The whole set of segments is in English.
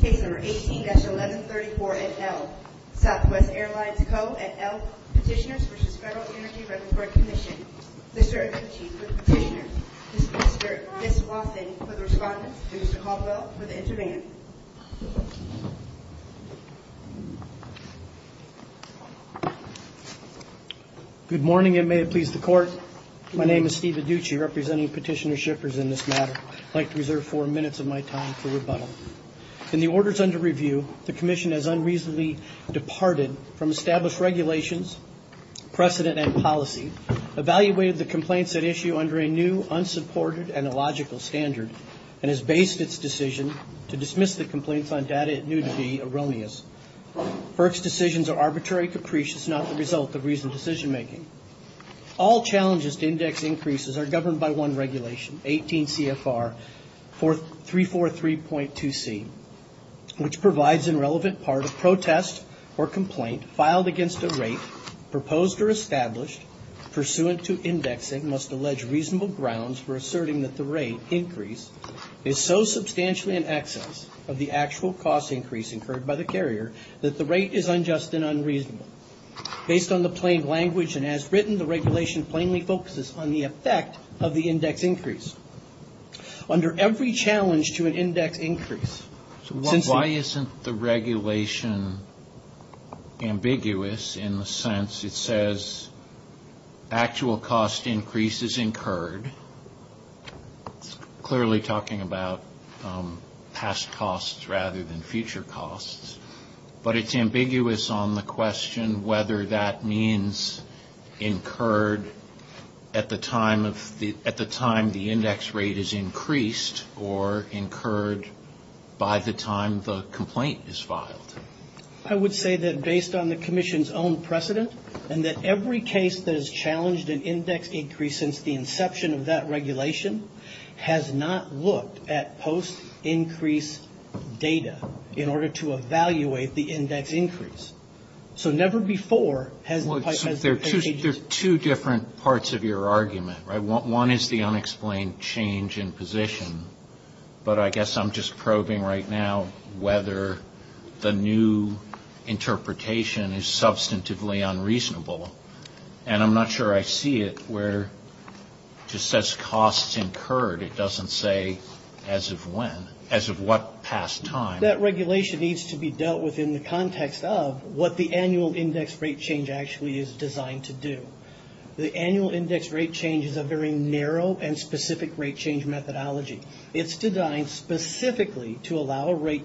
Case number 18-1134 at L. Southwest Airlines Co. at L. Petitioners v. Federal Energy Regulatory Commission. Mr. Adducci for the petitioner, Mr. Fisk-Lawson for the respondent, and Mr. Caldwell for the intervention. Good morning and may it please the court. My name is Steve Adducci representing Petitioner Shippers in this matter. I'd like to reserve four minutes of my time for rebuttal. In the orders under review, the commission has unreasonably departed from established regulations, precedent, and policy, evaluated the complaints at issue under a new, unsupported and illogical standard, and has based its decision to dismiss the complaints on data it knew to be erroneous. FERC's decisions are arbitrary and capricious, not the result of reasoned decision making. All challenges to index increases are governed by one regulation, 18 CFR 343.2c, which provides in relevant part a protest or complaint filed against a rate proposed or established pursuant to indexing must allege reasonable grounds for asserting that the rate increase is so substantially in excess of the actual cost increase incurred by the carrier that the rate is unjust and unreasonable. Based on the plain language and as written, the regulation plainly focuses on the effect of the index increase. Under every challenge to an index increase, since the regulation ambiguous in the sense it says actual cost increase is incurred, it's clearly talking about past costs rather than future costs, but it's ambiguous on the question whether that means incurred at the time the index rate is increased or incurred by the time the complaint is filed. I would say that based on the commission's own precedent, and that every case that has challenged an index increase since the inception of that regulation, there has never been a case in which the commission has used the data in order to evaluate the index increase. So never before has the pipe has been changed. Robert Nussbaum There are two different parts of your argument. One is the unexplained change in position, but I guess I'm just probing right now whether the new interpretation is substantively unreasonable, and I'm not sure I see it where it just says costs incurred. It doesn't say as of when, as of what past time. Dr. Laird That regulation needs to be dealt with in the context of what the annual index rate change actually is designed to do. The annual index rate change is a very narrow and specific rate change methodology. It's designed specifically to allow a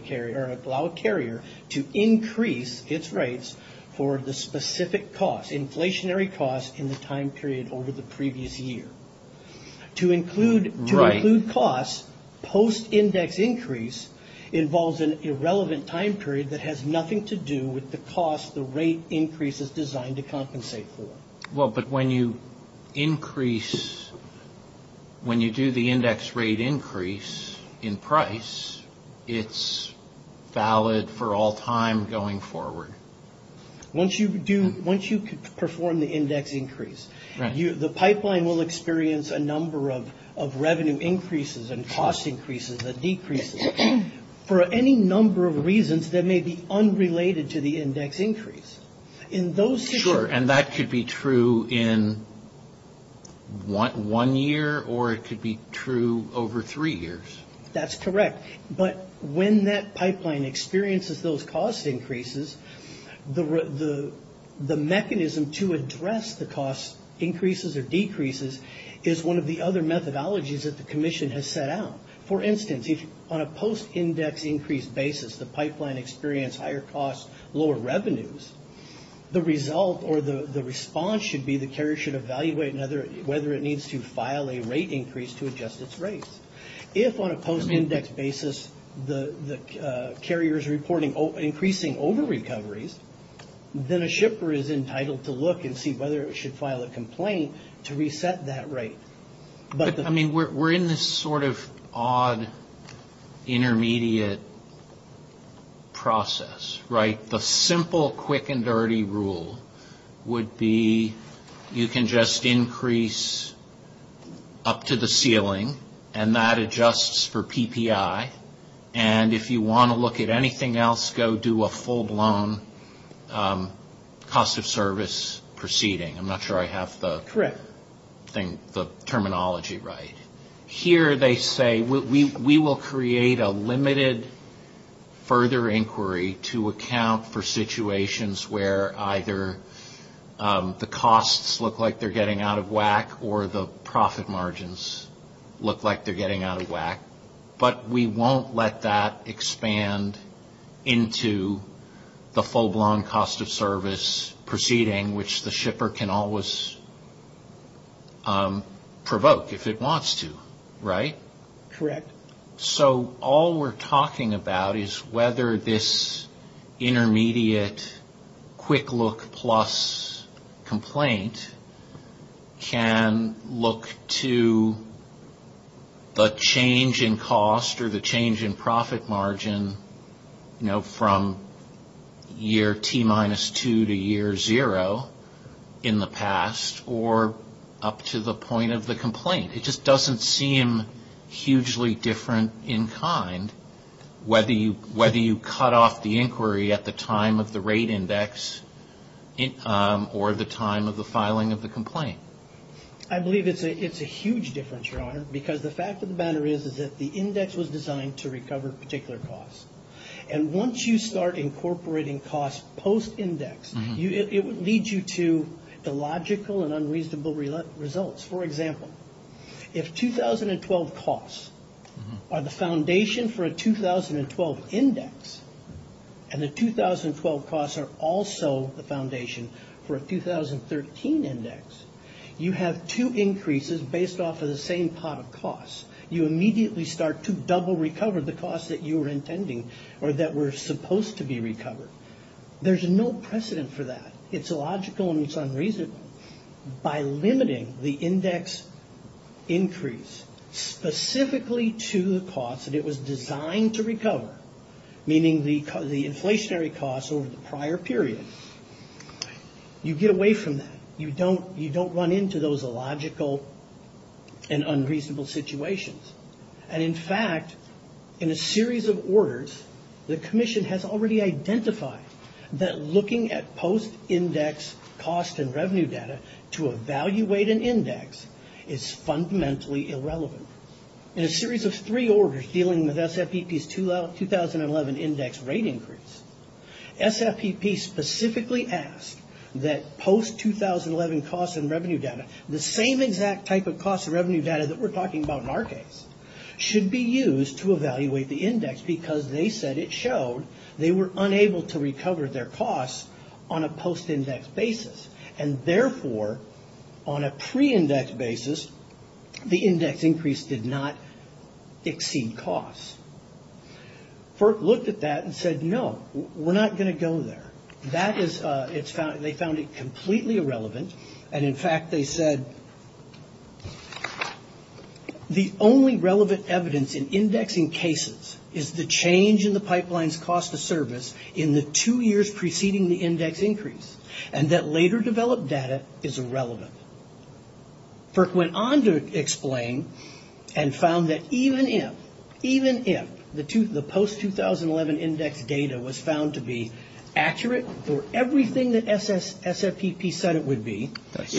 carrier to increase its rates for the specific costs, inflationary costs in the time period over the previous year. To include costs, post-index increase involves an irrelevant time period that has nothing to do with the costs the rate increase is designed to compensate for. Robert Nussbaum Well, but when you increase, when you do the index rate increase in price, it's valid for all time going forward. Once you do, once you perform the index increase, the pipeline will experience a number of revenue increases and cost increases and decreases. For any number of reasons, that may be unrelated to the index increase. In those situations. Dr. Laird Sure. And that could be true in one year, or it could be true over three years. Robert Nussbaum That's correct. But when that pipeline experiences those cost increases, the mechanism to address the cost increases or decreases is one of the other methodologies that the commission has set out. For instance, if on a post-index increase basis, the pipeline experienced higher costs, lower revenues, the result or the response should be the carrier should evaluate whether it needs to file a rate increase to adjust its rates. If on a post-index increase, basis, the carrier is reporting increasing over-recoveries, then a shipper is entitled to look and see whether it should file a complaint to reset that rate. Robert Nussbaum I mean, we're in this sort of odd intermediate process, right? The simple quick and dirty rule would be you can just increase up to the ceiling, and that adjusts for PPI. And if you want to look at anything else, go do a full-blown cost-of-service proceeding. I'm not sure I have the terminology right. Here, they say, we will create a limited further inquiry to account for situations where either the costs look like they're getting out of whack or the profit margins look like they're getting out of whack. But we won't let that expand into the full-blown cost-of-service proceeding, which the shipper can always provoke if it wants to, right? Correct. So all we're talking about is whether this intermediate quick look plus complaint can look to the change in cost-of-service. Or the change in profit margin, you know, from year T minus two to year zero in the past, or up to the point of the complaint. It just doesn't seem hugely different in kind, whether you cut off the inquiry at the time of the rate index or the time of the filing of the complaint. I believe it's a huge difference, Your Honor, because the fact of the matter is that the index was designed to recover particular costs. And once you start incorporating costs post-index, it would lead you to the logical and unreasonable results. For example, if 2012 costs are the foundation for a 2012 index, and the 2012 costs are also the foundation for a 2013 index, you have two increases based off of the same pot of costs. You immediately start to double recover the costs that you were intending or that were supposed to be recovered. There's no precedent for that. It's illogical and it's unreasonable. By limiting the index increase specifically to the costs that it was designed to recover, meaning the inflationary costs over the prior period, you get away from that. You don't run into those illogical and unreasonable situations. In fact, in a series of orders, the Commission has already identified that looking at post-index cost and revenue data to evaluate an index is fundamentally irrelevant. In a series of three orders dealing with SFPP's 2011 index rate increase, SFPP specifically asked that post-2011 cost and revenue data, the same exact type of cost and revenue data that we're talking about in our case, should be used to evaluate the index because they said it showed they were unable to recover their costs on a post-index basis. Therefore, on a pre-index basis, the index increase did not exceed costs. FERC looked at that and said, no, we're not going to go there. They found it completely irrelevant. In fact, they said, the only relevant evidence in indexing cases is the change in the pipeline's cost of service in the two years preceding the index increase. That later developed data is irrelevant. FERC went on to explain and found that even if the post-2011 index data was found to be accurate for everything that SFPP said it would be... That's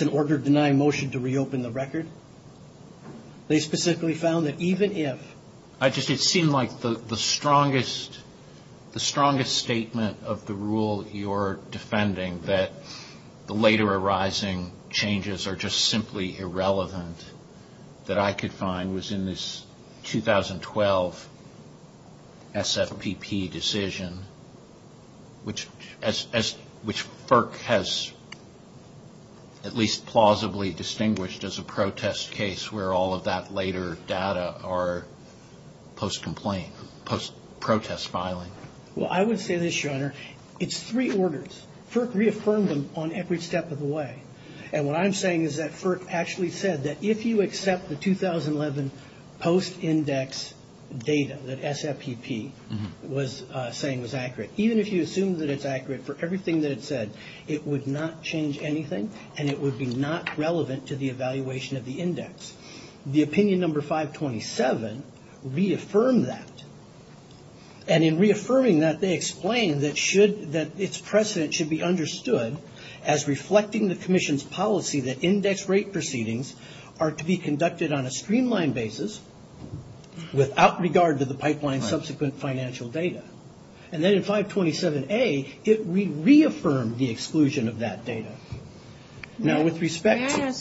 an order denying motion to reopen the record. They specifically found that even if... At least plausibly distinguished as a protest case where all of that later data are post-complaint, post-protest filing. Well, I would say this, Your Honor, it's three orders. FERC reaffirmed them on every step of the way. And what I'm saying is that FERC actually said that if you accept the 2011 post-index data that SFPP was saying was accurate, even if you assume that it's accurate for everything that it said, it would not change anything and it would be not relevant to the evaluation of the index. The opinion number 527 reaffirmed that. And in reaffirming that, they explained that its precedent should be understood as reflecting the commission's policy that index rate proceedings are to be conducted on a streamlined basis without regard to the pipeline's subsequent financial data. And then in 527A, it reaffirmed the exclusion of that data. Now, with respect to...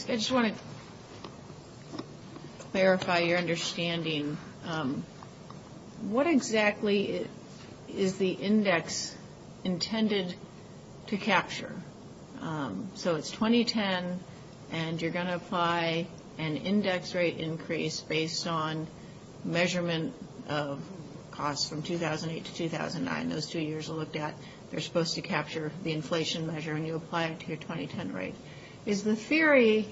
clarify your understanding, what exactly is the index intended to capture? So it's 2010 and you're going to apply an index rate increase based on measurement of costs from 2008 to 2009. Those two years are looked at. They're supposed to capture the inflation measure and you apply it to your 2010 rate. Is the theory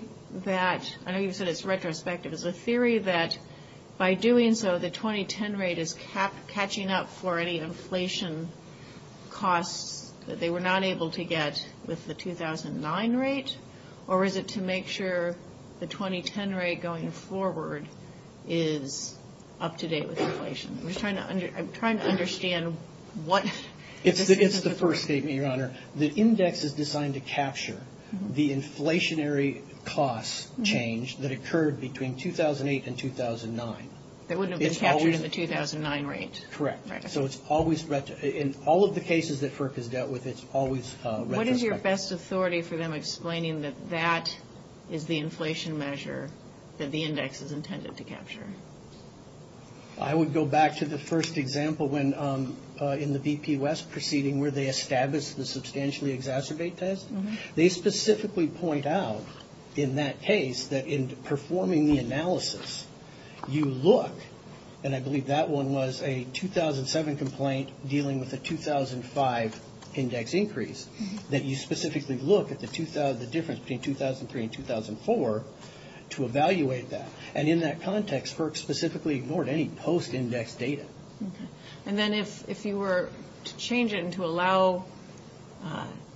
that... I know you said it's retrospective. Is the theory that by doing so, the 2010 rate is catching up for any inflation costs that they were not able to get with the 2009 rate? Or is it to make sure the 2010 rate going forward is up to date with inflation? I'm just trying to understand what... It's the first statement, Your Honor. The index is designed to capture the inflationary costs change that occurred between 2008 and 2009. That wouldn't have been captured in the 2009 rate? Correct. So it's always... In all of the cases that FERC has dealt with, it's always retrospective. What is your best authority for them explaining that that is the inflation measure that the index is intended to capture? I would go back to the first example in the BP West proceeding where they established the substantially exacerbate test. They specifically point out in that case that in performing the analysis, you look, and I believe that one was a 2007 complaint dealing with a 2005 index increase, that you specifically look at the difference between 2003 and 2004 to evaluate that. And in that context, FERC specifically ignored any post-index data. And then if you were to change it and to allow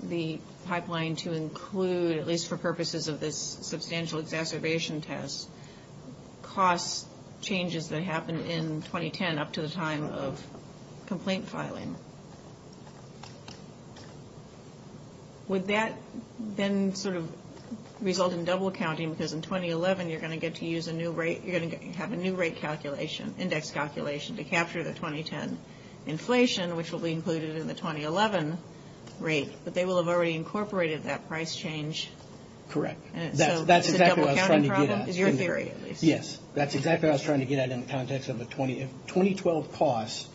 the pipeline to include, at least for purposes of this substantial exacerbation test, cost changes that happened in 2010 up to the time of complaint filing? Would that then sort of result in double-counting? Because in 2011, you're going to get to use a new rate. You're going to have a new rate calculation, index calculation, to capture the 2010 inflation, which will be included in the 2011 rate. But they will have already incorporated that price change. Correct. That's exactly what I was trying to get at. Is it a double-counting problem? Is your theory, at least? Yes. That's exactly what I was trying to get at in the context of the 2012 costs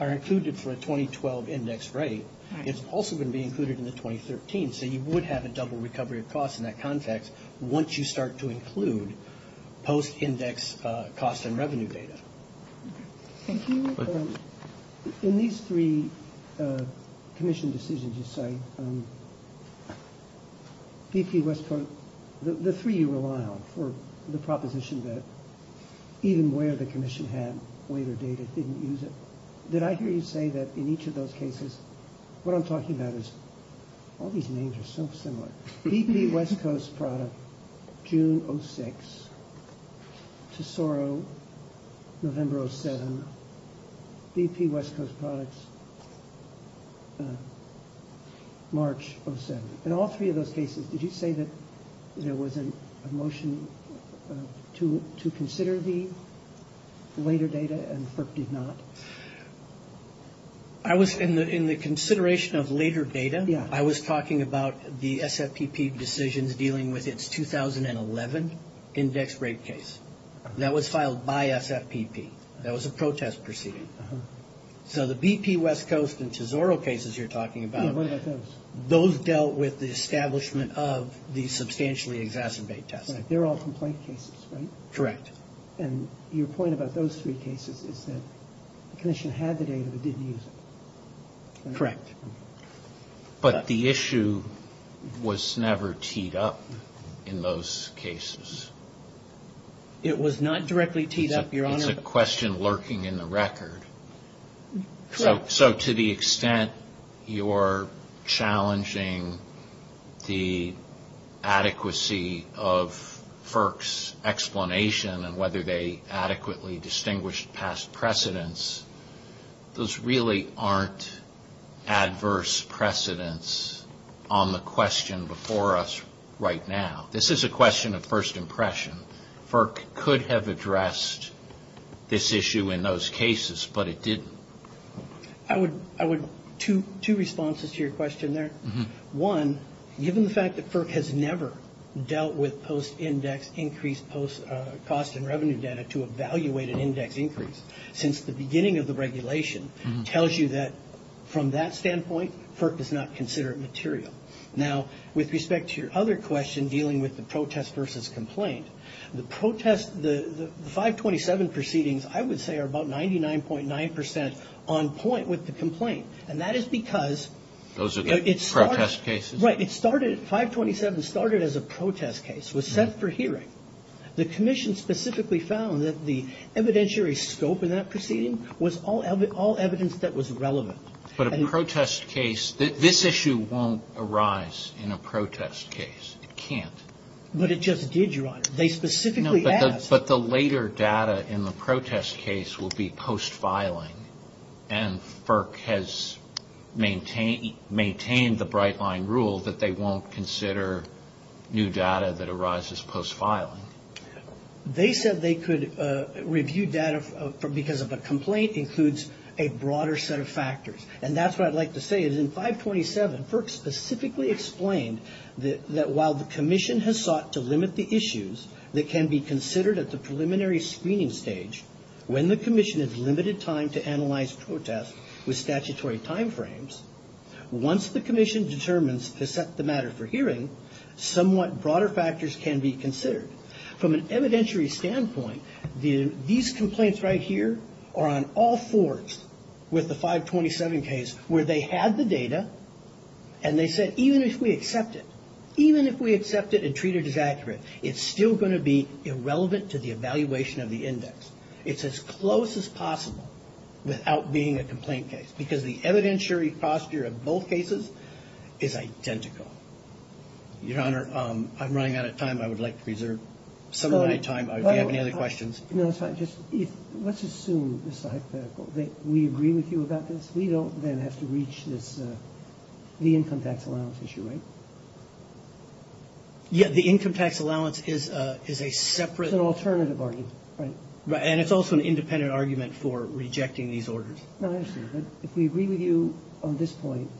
are included for a 2012 index rate. It's also going to be included in the 2013. So you would have a double recovery of costs in that context once you start to include post-index cost and revenue data. Thank you. In these three commission decisions you cite, BP, West Coast, the three you rely on for the proposition that even where the commission had weight or data didn't use it, did I hear you say that in each of those cases, what I'm talking about is all these names are so similar. BP, West Coast product, June 06. Tesoro, November 07. BP, West Coast products, March 07. In all three of those cases, did you say that there was a motion to consider the later data and FERC did not? I was in the consideration of later data. I was talking about the SFPP decisions dealing with its 2011 index rate case. That was filed by SFPP. That was a protest proceeding. So the BP, West Coast and Tesoro cases you're talking about, those dealt with the establishment of the substantially exacerbate test. They're all complaint cases, right? Correct. And your point about those three cases is that the commission had the data but didn't use it. Correct. But the issue was never teed up in those cases. It was not directly teed up, Your Honor. It's a question lurking in the record. So to the extent you're challenging the adequacy of FERC's explanation and whether they adequately distinguished past precedents, those really aren't adverse precedents on the question before us right now. This is a question of first impression. FERC could have addressed this issue in those cases, but it didn't. I would, two responses to your question there. One, given the fact that FERC has never dealt with post-index increased cost and revenue data to evaluate an index increase since the beginning of the regulation, tells you that from that standpoint, FERC does not consider it material. Now, with respect to your other question dealing with the protest versus complaint, the protest, the 527 proceedings I would say are about 99.9% on point with the complaint. And that is because those are the protest cases. Right. It started, 527 started as a protest case, was set for hearing. The commission specifically found that the evidentiary scope in that proceeding was all evidence that was relevant. But a protest case, this issue won't arise in a protest case. It can't. But it just did, Your Honor. They specifically asked. But the later data in the protest case will be post-filing. And FERC has maintained the bright line rule that they won't consider new data that arises post-filing. They said they could review data because of a complaint includes a broader set of factors. And that's what I'd like to say is in 527, FERC specifically explained that while the commission has sought to limit the issues that can be considered at the preliminary screening stage, when the commission has limited time to analyze protests with statutory time frames, once the commission determines to set the matter for hearing, somewhat broader factors can be considered. From an evidentiary standpoint, these complaints right here are on all fours with the 527 case where they had the data and they said even if we accept it, even if we accept it and treat it as accurate, it's still going to be irrelevant to the evaluation of the index. It's as close as possible without being a complaint case because the evidentiary posture of both cases is identical. Your Honor, I'm running out of time. I would like to reserve some of my time if you have any other questions. Let's assume we agree with you about this. We don't then have to reach the income tax allowance issue, right? Yeah, the income tax allowance is a separate alternative argument. And it's also an independent argument for rejecting these orders. If we agree with you on this point,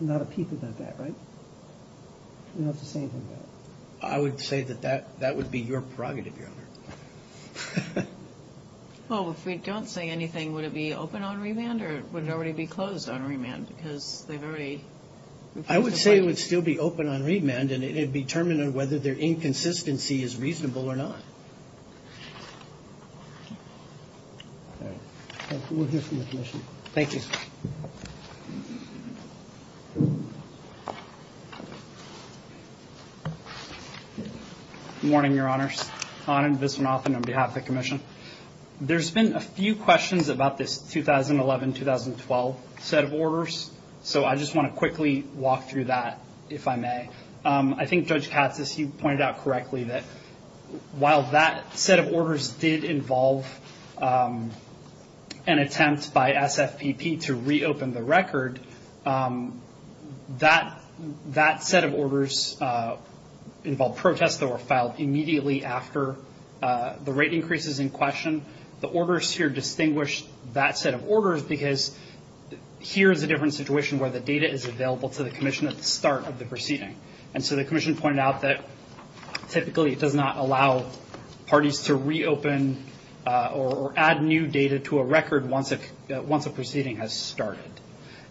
I'm not a peep about that, right? I would say that that would be your prerogative, Your Honor. Well, if we don't say anything, would it be open on remand or would it already be closed on remand? I would say it would still be open on remand and it would be determined on whether their inconsistency is reasonable or not. Thank you. Good morning, Your Honors. Anand Viswanathan on behalf of the Commission. There's been a few questions about this 2011-2012 set of orders, so I just want to quickly walk through that if I may. I think Judge Katsas, you pointed out correctly that while that set of orders did involve an attempt by SFPP to reopen the record, that set of orders involved protests that were filed immediately after the rate increases in question. The orders here distinguish that set of orders because here is a different situation where the data is available to the Commission at the start of the proceeding. And so the Commission pointed out that typically it does not allow parties to reopen or add new data to a record once a proceeding has started.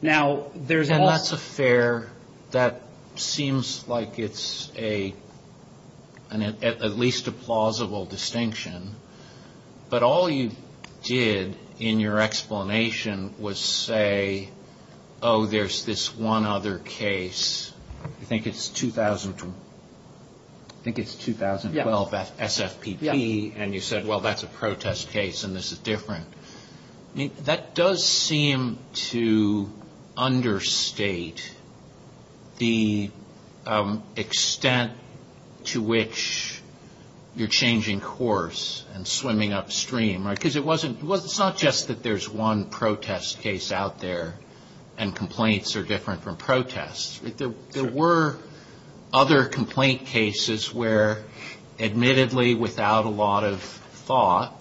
And that's a fair, that seems like it's a, at least a plausible distinction. But all you did in your explanation was say, oh, there's this one other case, I think it's 2012, I think it's 2012 SFPP, and you said, well, that's a protest case and this is different. That does seem to understate the extent to which you're changing course and swimming upstream. Because it wasn't, it's not just that there's one protest case out there and complaints are different from protests. There were other complaint cases where admittedly without a lot of thought,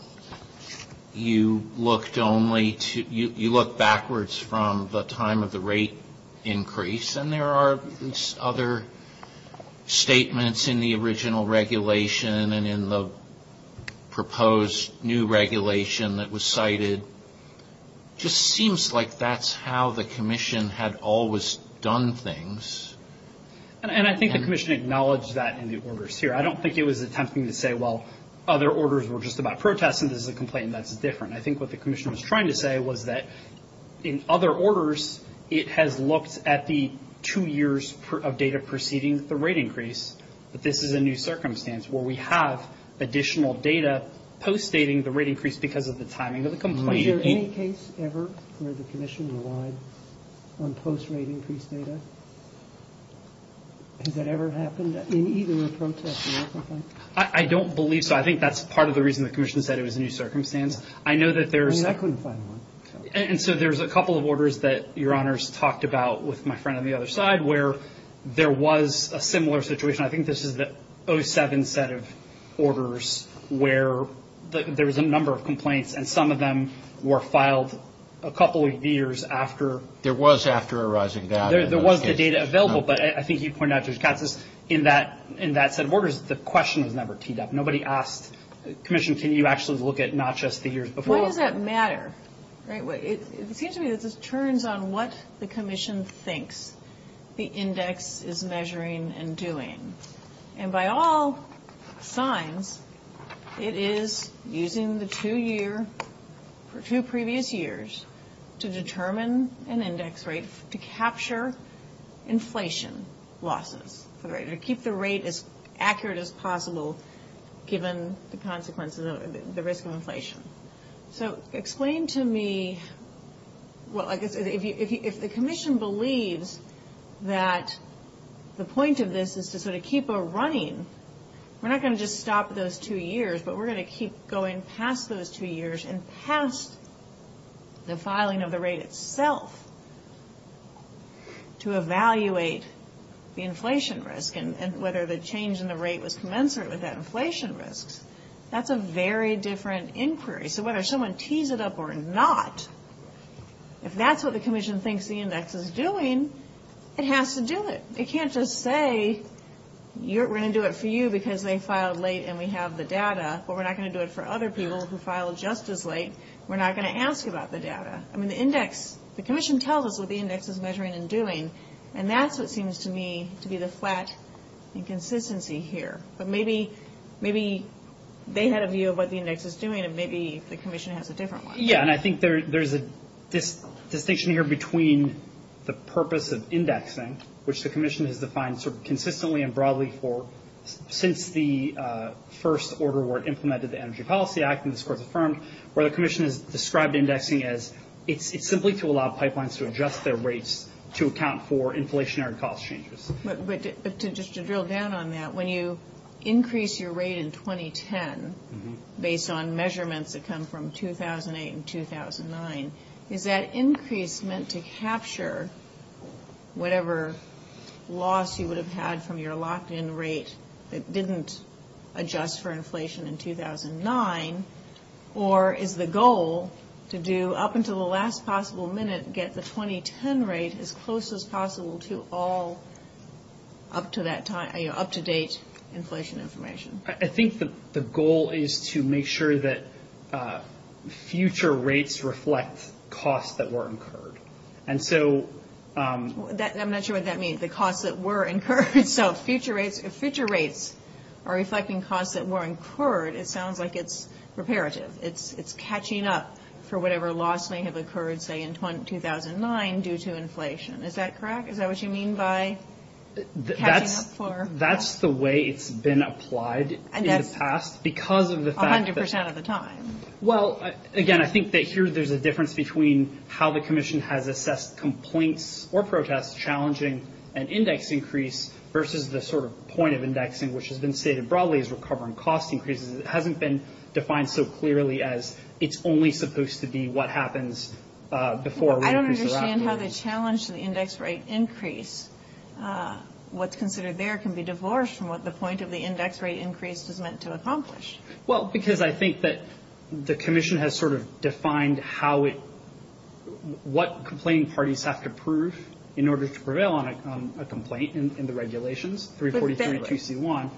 you looked only to, you look backwards from the time of the rate increase and there are other statements in the original regulation and in the proposed new regulation that was cited. Just seems like that's how the Commission had always done things. And I think the Commission acknowledged that in the orders here. I don't think it was attempting to say, well, other orders were just about protests and this is a complaint that's different. I think what the Commission was trying to say was that in other orders, it has looked at the two years of data preceding the rate increase. But this is a new circumstance where we have additional data post-dating the rate increase because of the timing of the complaint. Was there any case ever where the Commission relied on post-rate increase data? Has that ever happened in either a protest or a complaint? I don't believe so. I think that's part of the reason the Commission said it was a new circumstance. I know that there's. I mean, I couldn't find one. And so there's a couple of orders that Your Honors talked about with my friend on the other side where there was a similar situation. I think this is the 07 set of orders where there was a number of complaints. And some of them were filed a couple of years after. There was after a rising data. There was the data available. But I think you pointed out, Judge Katz, in that set of orders, the question was never teed up. Nobody asked, Commission, can you actually look at not just the years before? When does that matter? It seems to me that this turns on what the Commission thinks the index is measuring and doing. And by all signs, it is using the two year, for two previous years, to determine an index rate to capture inflation losses, to keep the rate as accurate as possible given the consequences, the risk of inflation. So explain to me, well, if the Commission believes that the point of this is to sort of keep a running, we're not going to just stop those two years, but we're going to keep going past those two years and past the filing of the rate itself to evaluate the inflation risk and whether the change in the rate was commensurate with that inflation risk. That's a very different inquiry. So whether someone tees it up or not, if that's what the Commission thinks the index is doing, it has to do it. It can't just say, we're going to do it for you because they filed late and we have the data, but we're not going to do it for other people who filed just as late. We're not going to ask about the data. I mean, the index, the Commission tells us what the index is measuring and doing, and that's what seems to me to be the flat inconsistency here. But maybe they had a view of what the index is doing, and maybe the Commission has a different one. Yeah, and I think there's a distinction here between the purpose of indexing, which the Commission has defined sort of consistently and broadly for since the first order where it implemented the Energy Policy Act and this was affirmed, where the Commission has described indexing as it's simply to allow pipelines to adjust their rates to account for inflationary cost changes. But just to drill down on that, when you increase your rate in 2010 based on measurements that come from 2008 and 2009, is that increase meant to capture whatever loss you would have had from your locked-in rate that didn't adjust for inflation in 2009, or is the goal to do up until the last possible minute, get the 2010 rate as close as possible to all up-to-date inflation information? I think the goal is to make sure that future rates reflect costs that were incurred. I'm not sure what that means, the costs that were incurred. So if future rates are reflecting costs that were incurred, it sounds like it's reparative. It's catching up for whatever loss may have occurred, say, in 2009 due to inflation. Is that correct? Is that what you mean by catching up for loss? That's the way it's been applied in the past because of the fact that— A hundred percent of the time. Well, again, I think that here there's a difference between how the Commission has assessed complaints or protests challenging an index increase versus the sort of point of indexing, which has been stated broadly as recovering cost increases. It hasn't been defined so clearly as it's only supposed to be what happens before— I don't understand how the challenge to the index rate increase, what's considered there, can be divorced from what the point of the index rate increase is meant to accomplish. Well, because I think that the Commission has sort of defined how it— how it's supposed to prevail on a complaint in the regulations, 343 and 2C1,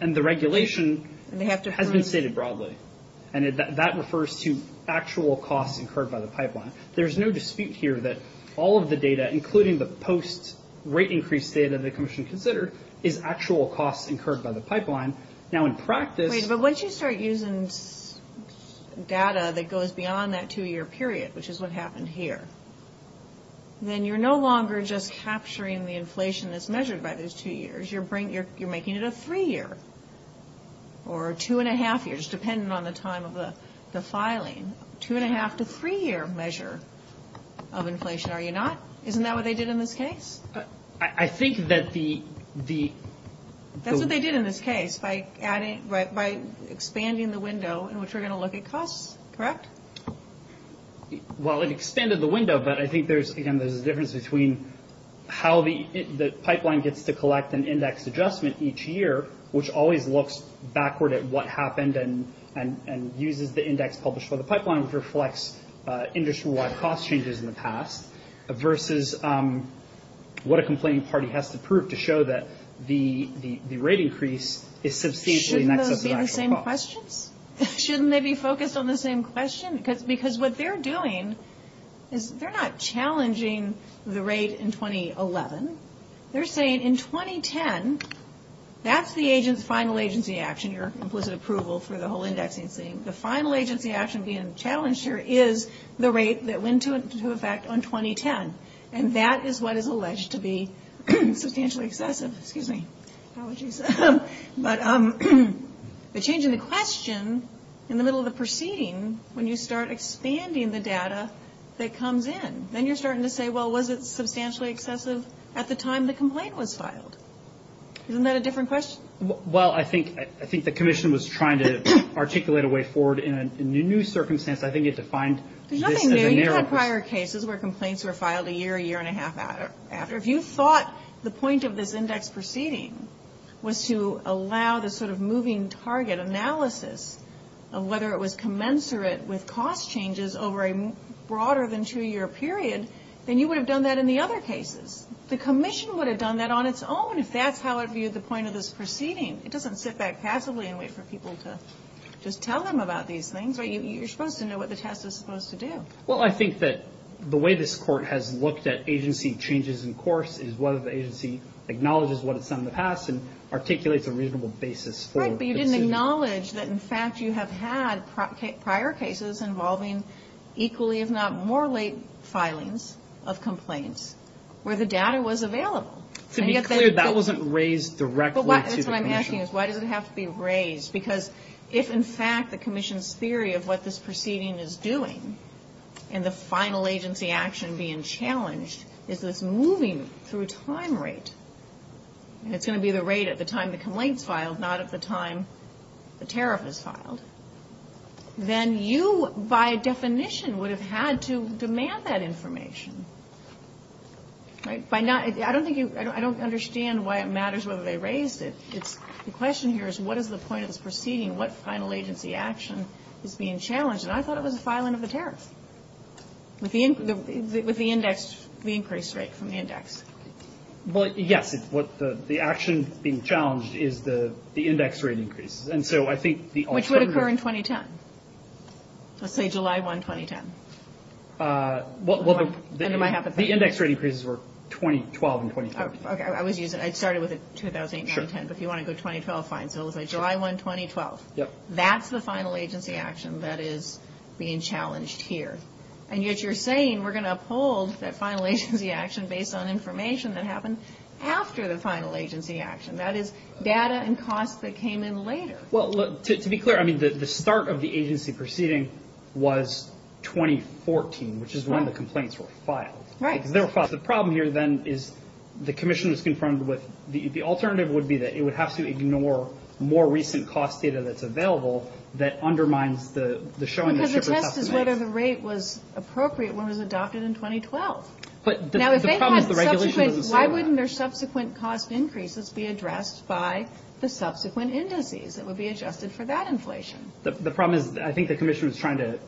and the regulation has been stated broadly, and that refers to actual costs incurred by the pipeline. There's no dispute here that all of the data, including the post-rate increase data the Commission considered, is actual costs incurred by the pipeline. Now, in practice— Wait, but once you start using data that goes beyond that two-year period, which is what happened here, then you're no longer just capturing the inflation that's measured by those two years. You're making it a three-year or two-and-a-half years, depending on the time of the filing. Two-and-a-half to three-year measure of inflation, are you not? Isn't that what they did in this case? I think that the— That's what they did in this case by expanding the window in which we're going to look at costs, correct? Well, it expanded the window, but I think, again, there's a difference between how the pipeline gets to collect an index adjustment each year, which always looks backward at what happened and uses the index published by the pipeline, which reflects industry-wide cost changes in the past, versus what a complaining party has to prove to show that the rate increase is substantially next to the actual cost. Shouldn't those be the same questions? Because what they're doing is they're not challenging the rate in 2011. They're saying in 2010, that's the final agency action, your implicit approval for the whole indexing thing. The final agency action being challenged here is the rate that went into effect in 2010, and that is what is alleged to be substantially excessive. Excuse me. Apologies. But the change in the question in the middle of the proceeding, when you start expanding the data that comes in, then you're starting to say, well, was it substantially excessive at the time the complaint was filed? Isn't that a different question? Well, I think the commission was trying to articulate a way forward in a new circumstance. I think it defined this as a narrow— There's nothing new. You've had prior cases where complaints were filed a year, a year and a half after. If you thought the point of this index proceeding was to allow the sort of moving target analysis of whether it was commensurate with cost changes over a broader than two-year period, then you would have done that in the other cases. The commission would have done that on its own if that's how it viewed the point of this proceeding. It doesn't sit back passively and wait for people to just tell them about these things. You're supposed to know what the test is supposed to do. Well, I think that the way this Court has looked at agency changes in course is whether the agency acknowledges what it's done in the past and articulates a reasonable basis for— Right, but you didn't acknowledge that, in fact, you have had prior cases involving equally, if not more late filings of complaints where the data was available. To be clear, that wasn't raised directly to the commission. That's what I'm asking is why does it have to be raised? Because if, in fact, the commission's theory of what this proceeding is doing and the final agency action being challenged is this moving through time rate, and it's going to be the rate at the time the complaint is filed, not at the time the tariff is filed, then you, by definition, would have had to demand that information. Right? I don't think you—I don't understand why it matters whether they raised it. The question here is what is the point of this proceeding? What final agency action is being challenged? And I thought it was a filing of the tariff with the index, the increased rate from the index. Well, yes. The action being challenged is the index rate increases. And so I think the alternative— Which would occur in 2010. Let's say July 1, 2010. Well, the— And it might happen— The index rate increases were 2012 and 2013. I was using—I started with it 2008, 2010. But if you want to go 2012, fine. So let's say July 1, 2012. That's the final agency action that is being challenged here. And yet you're saying we're going to uphold that final agency action based on information that happened after the final agency action. That is data and costs that came in later. Well, look, to be clear, I mean the start of the agency proceeding was 2014, which is when the complaints were filed. Right. The problem here, then, is the commission was confronted with—the alternative would be that it would have to ignore more recent cost data that's available that undermines the showing of different estimates. Because the test is whether the rate was appropriate when it was adopted in 2012. Now, if they had subsequent— The problem is the regulation doesn't say that. Why wouldn't their subsequent cost increases be addressed by the subsequent indices that would be adjusted for that inflation? The problem is I think the commission was trying to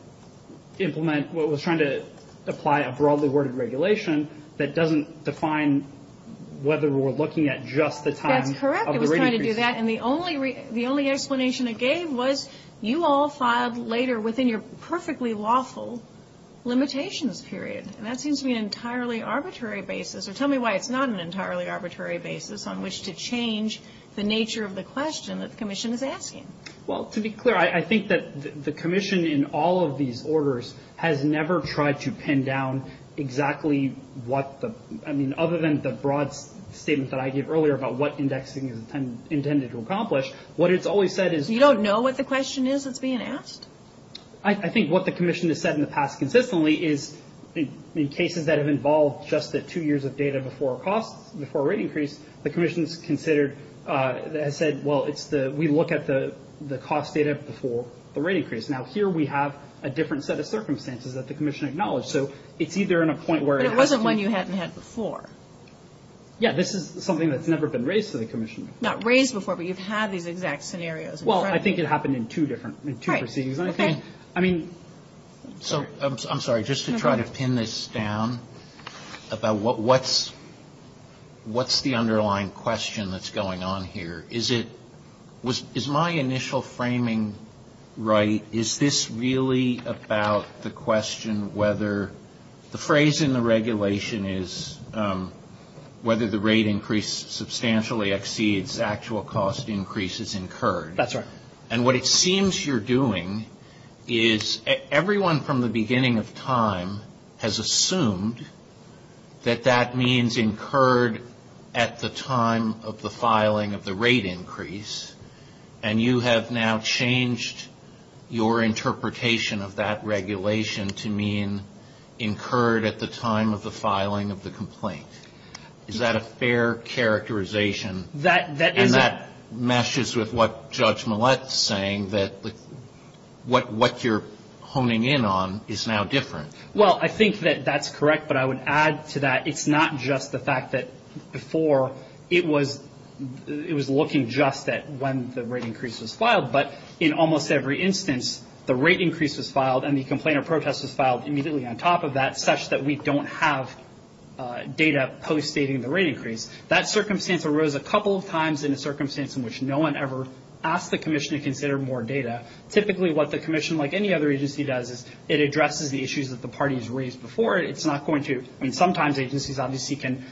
implement—was trying to apply a broadly worded regulation that doesn't define whether we're looking at just the time of the rate increase. That's correct. It was trying to do that. And the only explanation it gave was you all filed later within your perfectly lawful limitations period. And that seems to be an entirely arbitrary basis. Or tell me why it's not an entirely arbitrary basis on which to change the nature of the question that the commission is asking. Well, to be clear, I think that the commission in all of these orders has never tried to pin down exactly what the— I mean, other than the broad statement that I gave earlier about what indexing is intended to accomplish, what it's always said is— You don't know what the question is that's being asked? I think what the commission has said in the past consistently is in cases that have involved just the two years of data before rate increase, the commission has considered—has said, well, it's the—we look at the cost data before the rate increase. Now, here we have a different set of circumstances that the commission acknowledged. So it's either in a point where it has to— But it wasn't one you hadn't had before. Yeah. This is something that's never been raised to the commission. Not raised before, but you've had these exact scenarios. Well, I think it happened in two different—in two proceedings. Right. Okay. So, I'm sorry, just to try to pin this down about what's the underlying question that's going on here. Is it—is my initial framing right? Is this really about the question whether—the phrase in the regulation is whether the rate increase substantially exceeds actual cost increases incurred. That's right. And what it seems you're doing is everyone from the beginning of time has assumed that that means incurred at the time of the filing of the rate increase. And you have now changed your interpretation of that regulation to mean incurred at the time of the filing of the complaint. Is that a fair characterization? And that meshes with what Judge Millett is saying, that what you're honing in on is now different. Well, I think that that's correct. But I would add to that it's not just the fact that before it was looking just at when the rate increase was filed. But in almost every instance, the rate increase was filed and the complaint or protest was filed immediately on top of that, such that we don't have data post-dating the rate increase. That circumstance arose a couple of times in a circumstance in which no one ever asked the commission to consider more data. Typically, what the commission, like any other agency, does is it addresses the issues that the parties raised before it. It's not going to—I mean, sometimes agencies obviously can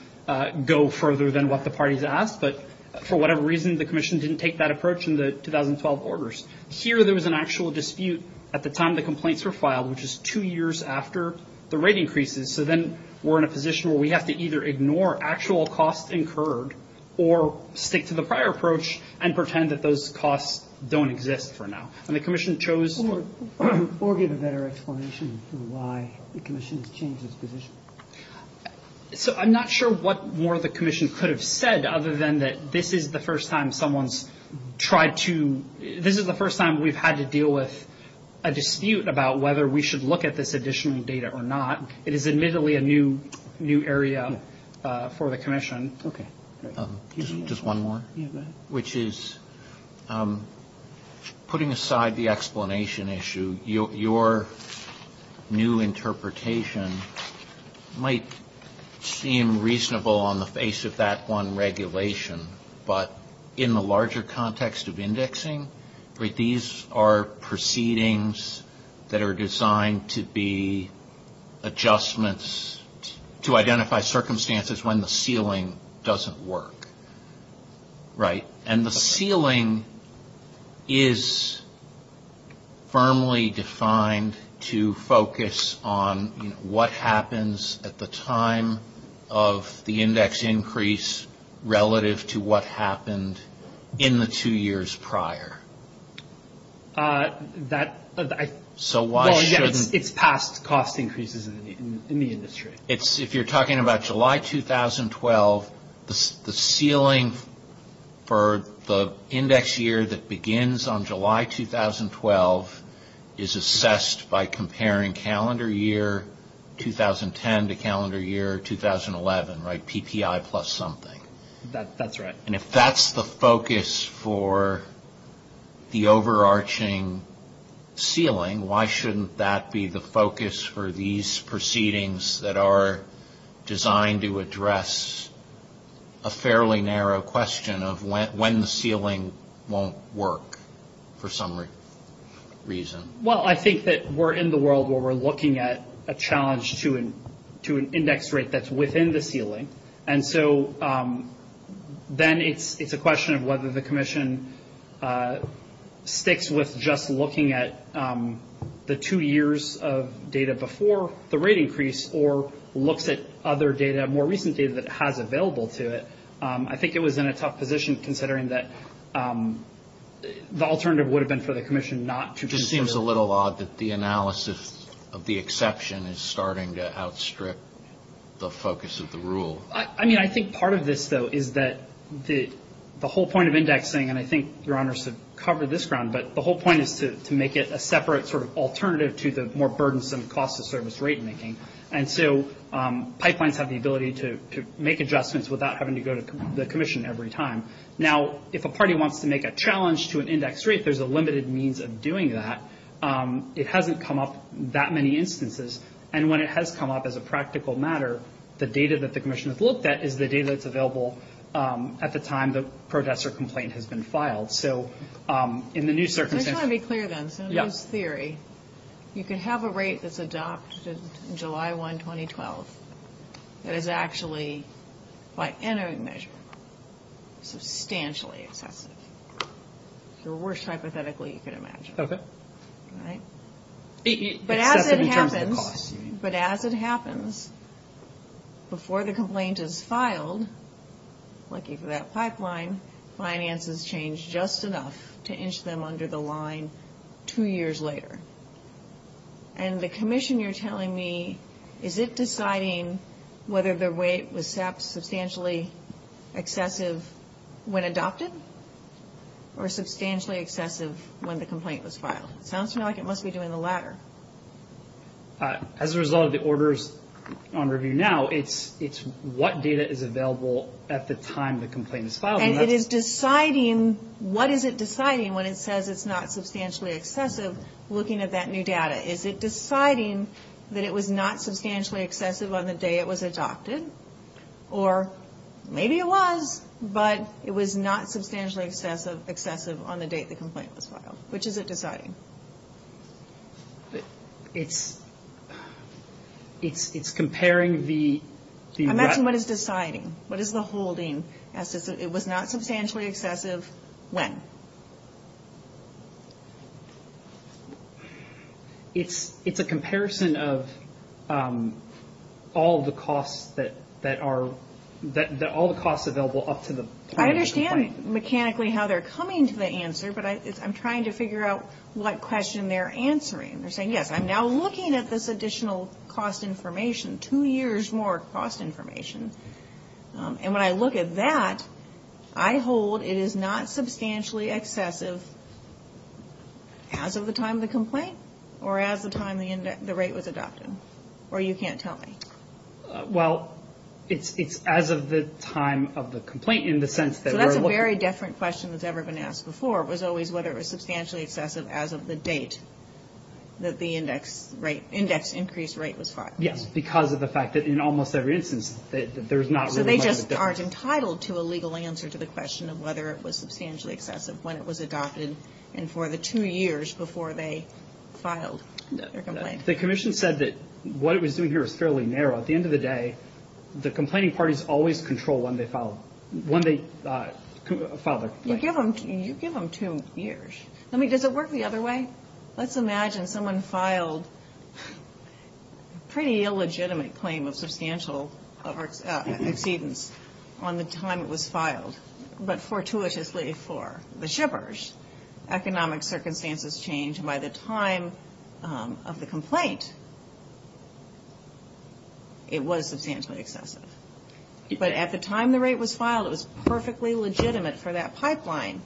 go further than what the parties asked. But for whatever reason, the commission didn't take that approach in the 2012 orders. Here, there was an actual dispute at the time the complaints were filed, which is two years after the rate increases. So then we're in a position where we have to either ignore actual costs incurred or stick to the prior approach and pretend that those costs don't exist for now. And the commission chose— Or give a better explanation for why the commission has changed its position. So I'm not sure what more the commission could have said other than that this is the first time someone's tried to— this is the first time we've had to deal with a dispute about whether we should look at this additional data or not. It is admittedly a new area for the commission. Okay. Just one more. Yeah, go ahead. Which is, putting aside the explanation issue, your new interpretation might seem reasonable on the face of that one regulation. But in the larger context of indexing, these are proceedings that are designed to be adjustments, to identify circumstances when the ceiling doesn't work, right? And the ceiling is firmly defined to focus on, you know, what happens at the time of the index increase relative to what happened in the two years prior. That— So why shouldn't— Well, yeah, it's past cost increases in the industry. If you're talking about July 2012, the ceiling for the index year that begins on July 2012 is assessed by comparing calendar year 2010 to calendar year 2011, right? PPI plus something. That's right. And if that's the focus for the overarching ceiling, why shouldn't that be the focus for these proceedings that are designed to address a fairly narrow question of when the ceiling won't work for some reason? Well, I think that we're in the world where we're looking at a challenge to an index rate that's within the ceiling. And so then it's a question of whether the commission sticks with just looking at the two years of data before the rate increase or looks at other data, more recent data that has available to it. I think it was in a tough position considering that the alternative would have been for the commission not to— It just seems a little odd that the analysis of the exception is starting to outstrip the focus of the rule. I mean, I think part of this, though, is that the whole point of indexing, and I think Your Honors have covered this ground, but the whole point is to make it a separate sort of alternative to the more burdensome cost of service rate making. And so pipelines have the ability to make adjustments without having to go to the commission every time. Now, if a party wants to make a challenge to an index rate, there's a limited means of doing that. It hasn't come up that many instances, and when it has come up as a practical matter, the data that the commission has looked at is the data that's available at the time the protest or complaint has been filed. So in the new circumstance— I just want to be clear, then. Yes. you can have a rate that's adopted in July 1, 2012 that is actually, by any measure, substantially excessive. It's the worst hypothetically you could imagine. Okay. Right? Excessive in terms of the cost. But as it happens, before the complaint is filed, lucky for that pipeline, finances change just enough to inch them under the line two years later. And the commission, you're telling me, is it deciding whether the rate was substantially excessive when adopted or substantially excessive when the complaint was filed? It sounds to me like it must be doing the latter. As a result of the orders on review now, it's what data is available at the time the complaint is filed. And it is deciding, what is it deciding when it says it's not substantially excessive looking at that new data? Is it deciding that it was not substantially excessive on the day it was adopted? Or maybe it was, but it was not substantially excessive on the date the complaint was filed. Which is it deciding? It's comparing the— Imagine what is deciding. What is the holding as to it was not substantially excessive when? It's a comparison of all the costs that are—all the costs available up to the time of the complaint. I understand mechanically how they're coming to the answer, but I'm trying to figure out what question they're answering. They're saying, yes, I'm now looking at this additional cost information, two years more cost information. And when I look at that, I hold it is not substantially excessive as of the time of the complaint or as of the time the rate was adopted. Or you can't tell me. Well, it's as of the time of the complaint in the sense that we're looking— That the index increased rate was filed. Yes, because of the fact that in almost every instance, there's not really much of a difference. So they just aren't entitled to a legal answer to the question of whether it was substantially excessive when it was adopted and for the two years before they filed their complaint. The commission said that what it was doing here was fairly narrow. At the end of the day, the complaining parties always control when they file their complaint. You give them two years. Does it work the other way? Let's imagine someone filed a pretty illegitimate claim of substantial exceedance on the time it was filed. But fortuitously for the shippers, economic circumstances changed. By the time of the complaint, it was substantially excessive. But at the time the rate was filed, it was perfectly legitimate for that pipeline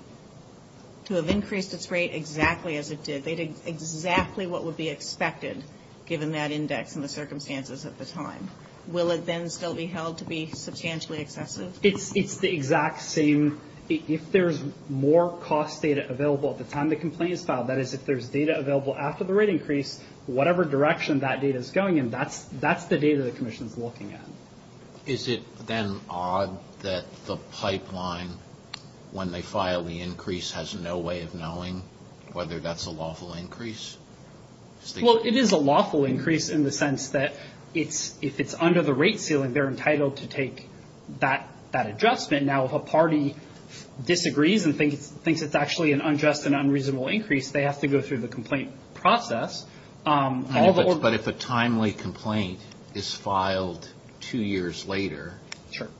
to have increased its rate exactly as it did. They did exactly what would be expected given that index and the circumstances at the time. Will it then still be held to be substantially excessive? It's the exact same. If there's more cost data available at the time the complaint is filed, that is if there's data available after the rate increase, whatever direction that data is going in, that's the data the commission is looking at. Is it then odd that the pipeline, when they file the increase, has no way of knowing whether that's a lawful increase? Well, it is a lawful increase in the sense that if it's under the rate ceiling, they're entitled to take that adjustment. Now, if a party disagrees and thinks it's actually an unjust and unreasonable increase, they have to go through the complaint process. But if a timely complaint is filed two years later,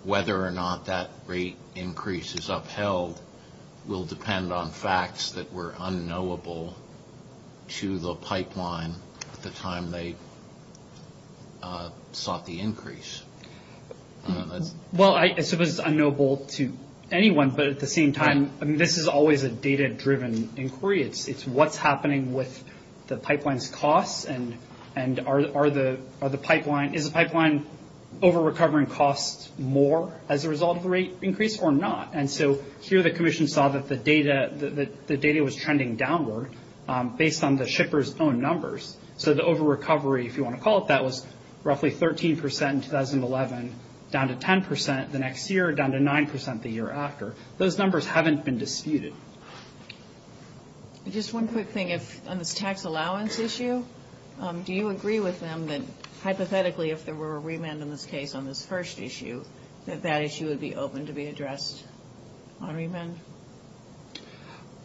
whether or not that rate increase is upheld will depend on facts that were unknowable to the pipeline at the time they sought the increase. Well, I suppose it's unknowable to anyone, but at the same time, this is always a data-driven inquiry. It's what's happening with the pipeline's costs, and is the pipeline over-recovering costs more as a result of the rate increase or not? And so here the commission saw that the data was trending downward based on the shippers' own numbers. So the over-recovery, if you want to call it that, was roughly 13 percent in 2011, down to 10 percent the next year, down to 9 percent the year after. Those numbers haven't been disputed. Just one quick thing on this tax allowance issue. Do you agree with them that hypothetically if there were a remand in this case on this first issue, that that issue would be open to be addressed on remand?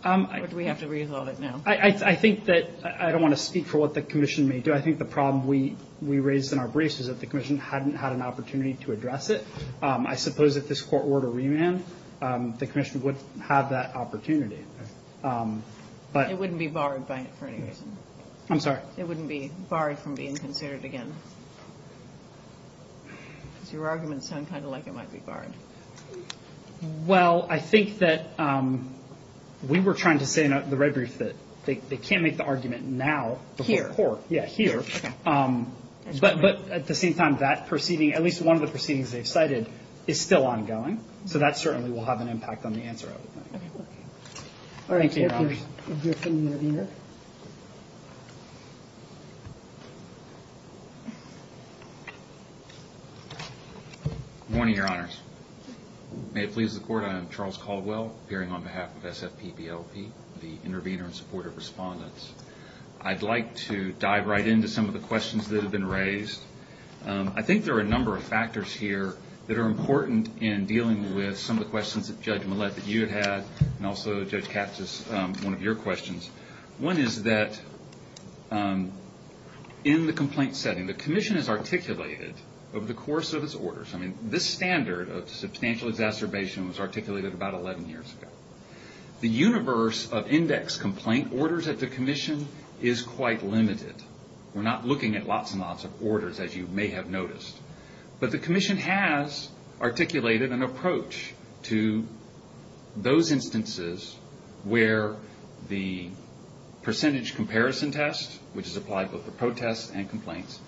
Or do we have to resolve it now? I think that I don't want to speak for what the commission may do. I think the problem we raised in our briefs is that the commission hadn't had an opportunity to address it. I suppose if this court were to remand, the commission would have that opportunity. It wouldn't be barred by it for any reason? I'm sorry? It wouldn't be barred from being considered again? Because your arguments sound kind of like it might be barred. Well, I think that we were trying to say in the red brief that they can't make the argument now before court. Here? Yeah, here. But at the same time, that proceeding, at least one of the proceedings they've cited, is still ongoing. So that certainly will have an impact on the answer. Thank you, Your Honors. We'll hear from the intervener. Good morning, Your Honors. May it please the Court, I am Charles Caldwell, appearing on behalf of SFPBLP, the intervener in support of respondents. I'd like to dive right into some of the questions that have been raised. I think there are a number of factors here that are important in dealing with some of the questions that Judge Millett, that you had had, and also Judge Katz's, one of your questions. One is that in the complaint setting, the commission has articulated, over the course of its orders, I mean, this standard of substantial exacerbation was articulated about 11 years ago. The universe of index complaint orders at the commission is quite limited. We're not looking at lots and lots of orders, as you may have noticed. But the commission has articulated an approach to those instances where the percentage comparison test, which is applied both to protests and complaints,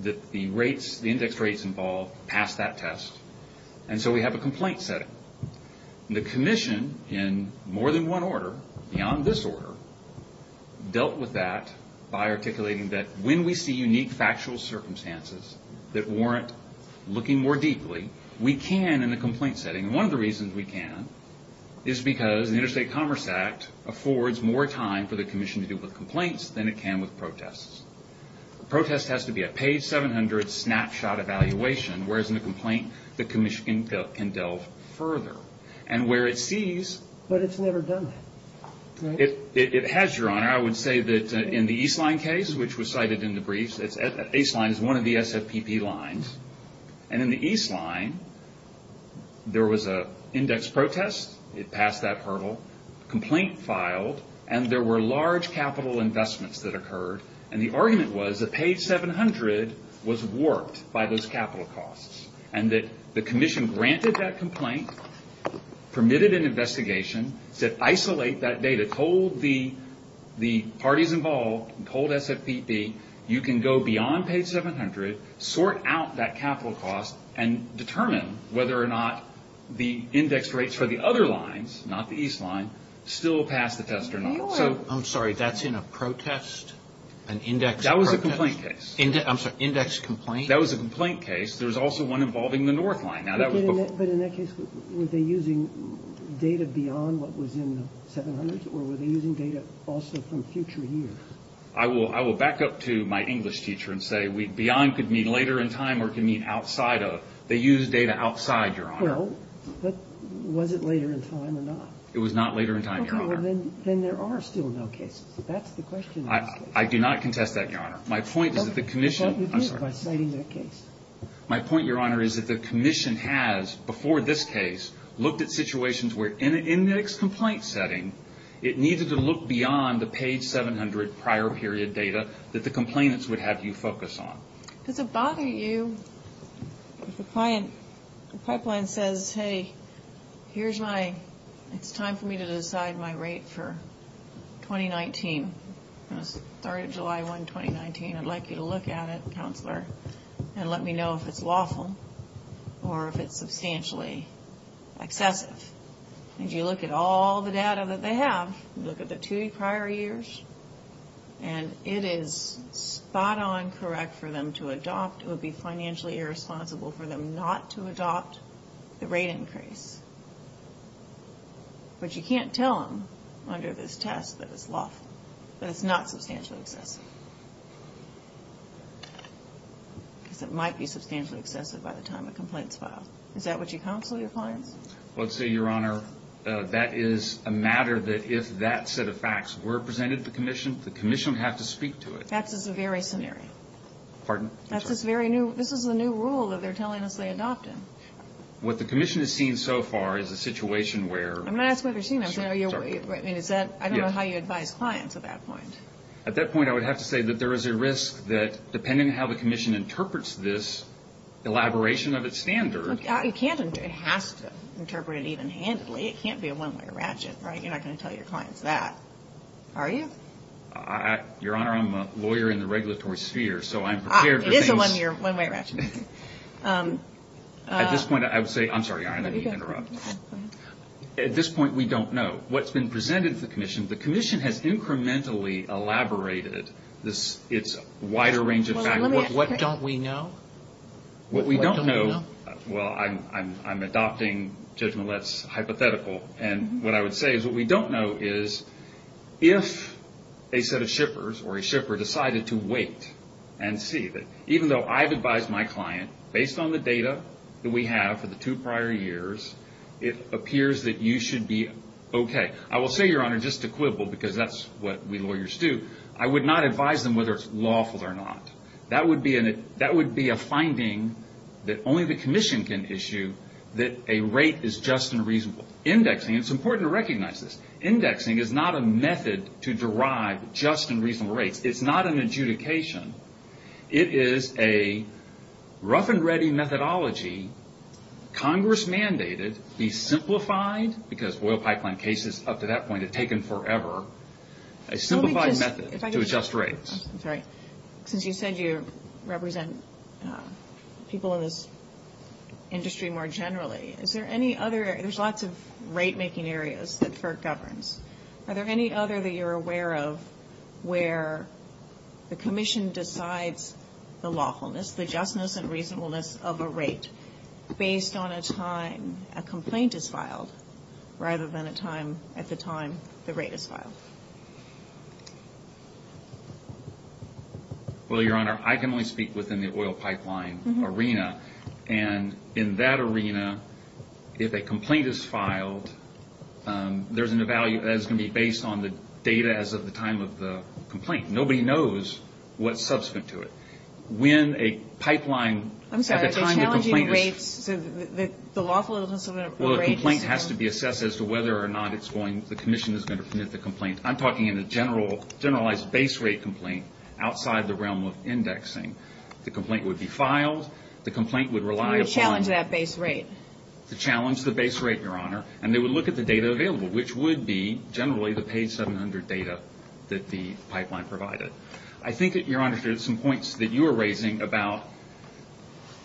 that the rates, the index rates involved, pass that test. And so we have a complaint setting. The commission, in more than one order, beyond this order, dealt with that by articulating that when we see unique factual circumstances that warrant looking more deeply, we can in a complaint setting. And one of the reasons we can is because the Interstate Commerce Act affords more time for the commission to deal with complaints than it can with protests. A protest has to be a page 700 snapshot evaluation, whereas in a complaint, the commission can delve further. And where it sees- But it's never done that, right? It has, Your Honor. I would say that in the East Line case, which was cited in the briefs, East Line is one of the SFPP lines, and in the East Line, there was an index protest. It passed that hurdle. A complaint filed, and there were large capital investments that occurred. And the argument was that page 700 was warped by those capital costs, and that the commission granted that complaint, permitted an investigation, said isolate that data, told the parties involved, and told SFPP, you can go beyond page 700, sort out that capital cost, and determine whether or not the index rates for the other lines, not the East Line, still pass the test or not. So I'm sorry. That's in a protest? An index protest? That was a complaint case. I'm sorry. Index complaint? That was a complaint case. There was also one involving the North Line. But in that case, were they using data beyond what was in the 700s, or were they using data also from future years? I will back up to my English teacher and say beyond could mean later in time or it could mean outside of. They used data outside, Your Honor. Well, but was it later in time or not? It was not later in time, Your Honor. Then there are still no cases. That's the question. I do not contest that, Your Honor. My point is that the commission has, before this case, looked at situations where in an index complaint setting, it needed to look beyond the page 700 prior period data that the complainants would have you focus on. Does it bother you if the pipeline says, hey, here's my, it's time for me to decide my rate for 2019. I'm going to start July 1, 2019. I'd like you to look at it, Counselor, and let me know if it's lawful or if it's substantially excessive. And you look at all the data that they have, look at the two prior years, and it is spot on correct for them to adopt. It would be financially irresponsible for them not to adopt the rate increase. But you can't tell them under this test that it's lawful, that it's not substantially excessive. Because it might be substantially excessive by the time a complaint is filed. Is that what you counsel your clients? Well, let's say, Your Honor, that is a matter that if that set of facts were presented to the commission, the commission would have to speak to it. That's just a very scenario. Pardon? That's just very new. This is a new rule that they're telling us they adopt in. What the commission has seen so far is a situation where. I'm not asking what they've seen. I don't know how you advise clients at that point. At that point, I would have to say that there is a risk that, depending on how the commission interprets this elaboration of its standard. You can't. It has to interpret it even handily. It can't be a one-way ratchet, right? You're not going to tell your clients that, are you? Your Honor, I'm a lawyer in the regulatory sphere, so I'm prepared for things. It is a one-way ratchet. At this point, I would say. I'm sorry, Your Honor, let me interrupt. At this point, we don't know. What's been presented to the commission, the commission has incrementally elaborated its wider range of facts. What don't we know? What we don't know, well, I'm adopting Judge Millett's hypothetical, and what I would say is what we don't know is if a set of shippers or a shipper decided to wait and see. Even though I've advised my client, based on the data that we have for the two prior years, it appears that you should be okay. I will say, Your Honor, just to quibble, because that's what we lawyers do, I would not advise them whether it's lawful or not. That would be a finding that only the commission can issue, that a rate is just and reasonable. Indexing, and it's important to recognize this, indexing is not a method to derive just and reasonable rates. It's not an adjudication. It is a rough-and-ready methodology, Congress-mandated, be simplified, because oil pipeline cases up to that point have taken forever, a simplified method to adjust rates. I'm sorry. Since you said you represent people in this industry more generally, is there any other – there's lots of rate-making areas that FERC governs. Are there any other that you're aware of where the commission decides the lawfulness, the justness and reasonableness of a rate based on a time a complaint is filed rather than a time at the time the rate is filed? Well, Your Honor, I can only speak within the oil pipeline arena. And in that arena, if a complaint is filed, there's going to be a value that's going to be based on the data as of the time of the complaint. Nobody knows what's subsequent to it. When a pipeline at the time the complaint is – So the lawfulness of a rate is – Well, a complaint has to be assessed as to whether or not it's going – the commission is going to permit the complaint. I'm talking in a generalized base-rate complaint outside the realm of indexing. The complaint would be filed. The complaint would rely upon – To really challenge that base rate. To challenge the base rate, Your Honor. And they would look at the data available, which would be generally the page 700 data that the pipeline provided. I think that, Your Honor, there are some points that you are raising about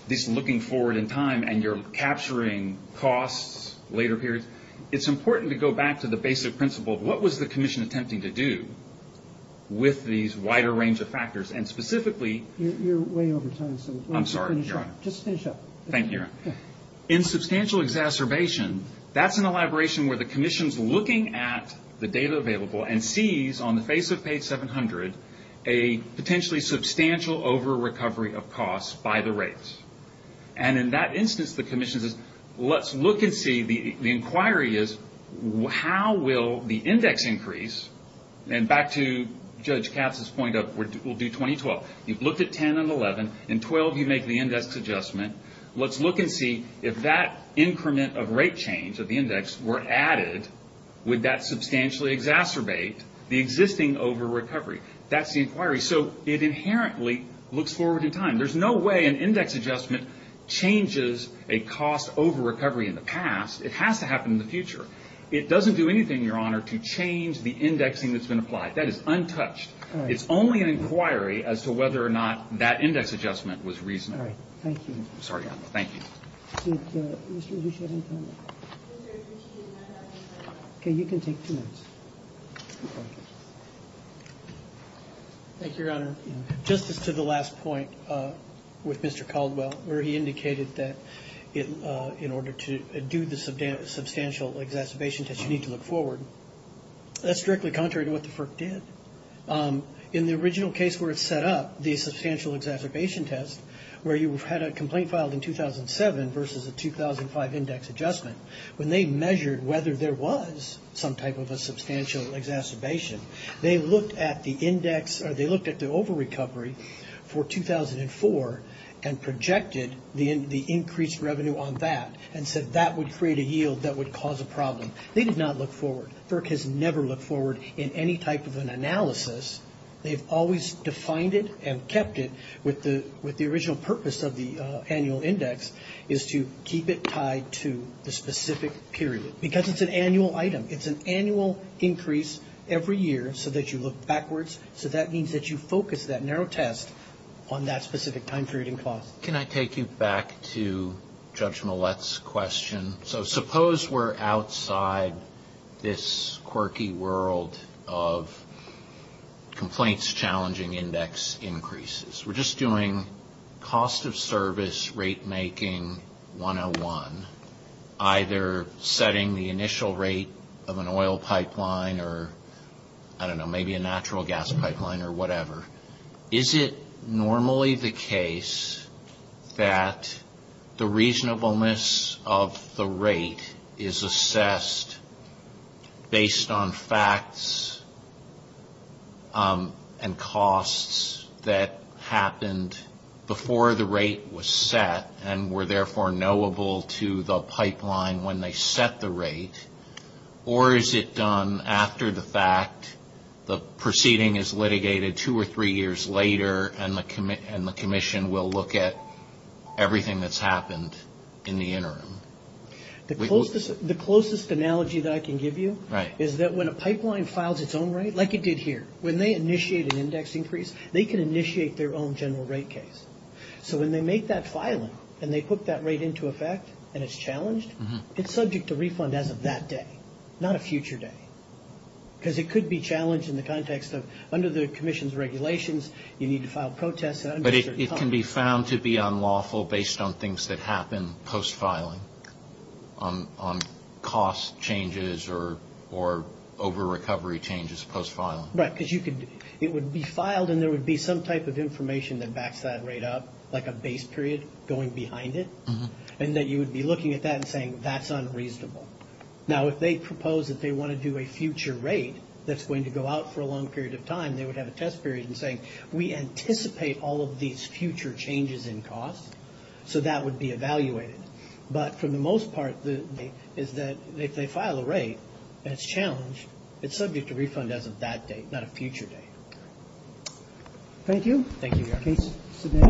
this looking forward in time and you're capturing costs, later periods. It's important to go back to the basic principle. What was the commission attempting to do with these wider range of factors? And specifically – You're way over time. I'm sorry, Your Honor. Just finish up. Thank you, Your Honor. In substantial exacerbation, that's an elaboration where the commission's looking at the data available and sees on the face of page 700 a potentially substantial over-recovery of costs by the rates. And in that instance, the commission says, let's look and see – the inquiry is how will the index increase? And back to Judge Katz's point of we'll do 2012. You've looked at 10 and 11. In 12, you make the index adjustment. Let's look and see if that increment of rate change of the index were added, would that substantially exacerbate the existing over-recovery? That's the inquiry. So it inherently looks forward in time. There's no way an index adjustment changes a cost over-recovery in the past. It has to happen in the future. It doesn't do anything, Your Honor, to change the indexing that's been applied. That is untouched. All right. It's only an inquiry as to whether or not that index adjustment was reasonable. All right. Thank you. Sorry, Your Honor. Thank you. Did Mr. Ducey have any comment? Mr. Ducey did not have any comment. Okay. You can take two minutes. Thank you, Your Honor. Just as to the last point with Mr. Caldwell, where he indicated that in order to do the substantial exacerbation test, you need to look forward, that's strictly contrary to what the FERC did. In the original case where it's set up, the substantial exacerbation test, where you had a complaint filed in 2007 versus a 2005 index adjustment, when they measured whether there was some type of a substantial exacerbation, they looked at the over-recovery for 2004 and projected the increased revenue on that and said that would create a yield that would cause a problem. They did not look forward. FERC has never looked forward in any type of an analysis. They've always defined it and kept it with the original purpose of the annual index is to keep it tied to the specific period because it's an annual item. It's an annual increase every year so that you look backwards. So that means that you focus that narrow test on that specific time period and cost. Can I take you back to Judge Millett's question? So suppose we're outside this quirky world of complaints challenging index increases. We're just doing cost of service rate making 101, either setting the initial rate of an oil pipeline or, I don't know, maybe a natural gas pipeline or whatever. Is it normally the case that the reasonableness of the rate is assessed based on facts and costs that happened before the rate was set and were therefore knowable to the pipeline when they set the rate? Or is it done after the fact, the proceeding is litigated two or three years later and the commission will look at everything that's happened in the interim? The closest analogy that I can give you is that when a pipeline files its own rate, like it did here, when they initiate an index increase, they can initiate their own general rate case. So when they make that filing and they put that rate into effect and it's challenged, it's subject to refund as of that day, not a future day. Because it could be challenged in the context of under the commission's regulations, you need to file protests. But it can be found to be unlawful based on things that happen post-filing, on cost changes or over-recovery changes post-filing. Right, because it would be filed and there would be some type of information that backs that rate up, like a base period going behind it, and that you would be looking at that and saying that's unreasonable. Now, if they propose that they want to do a future rate that's going to go out for a long period of time, they would have a test period and say, we anticipate all of these future changes in cost, so that would be evaluated. But for the most part is that if they file a rate and it's challenged, it's subject to refund as of that day, not a future day. Thank you. Thank you.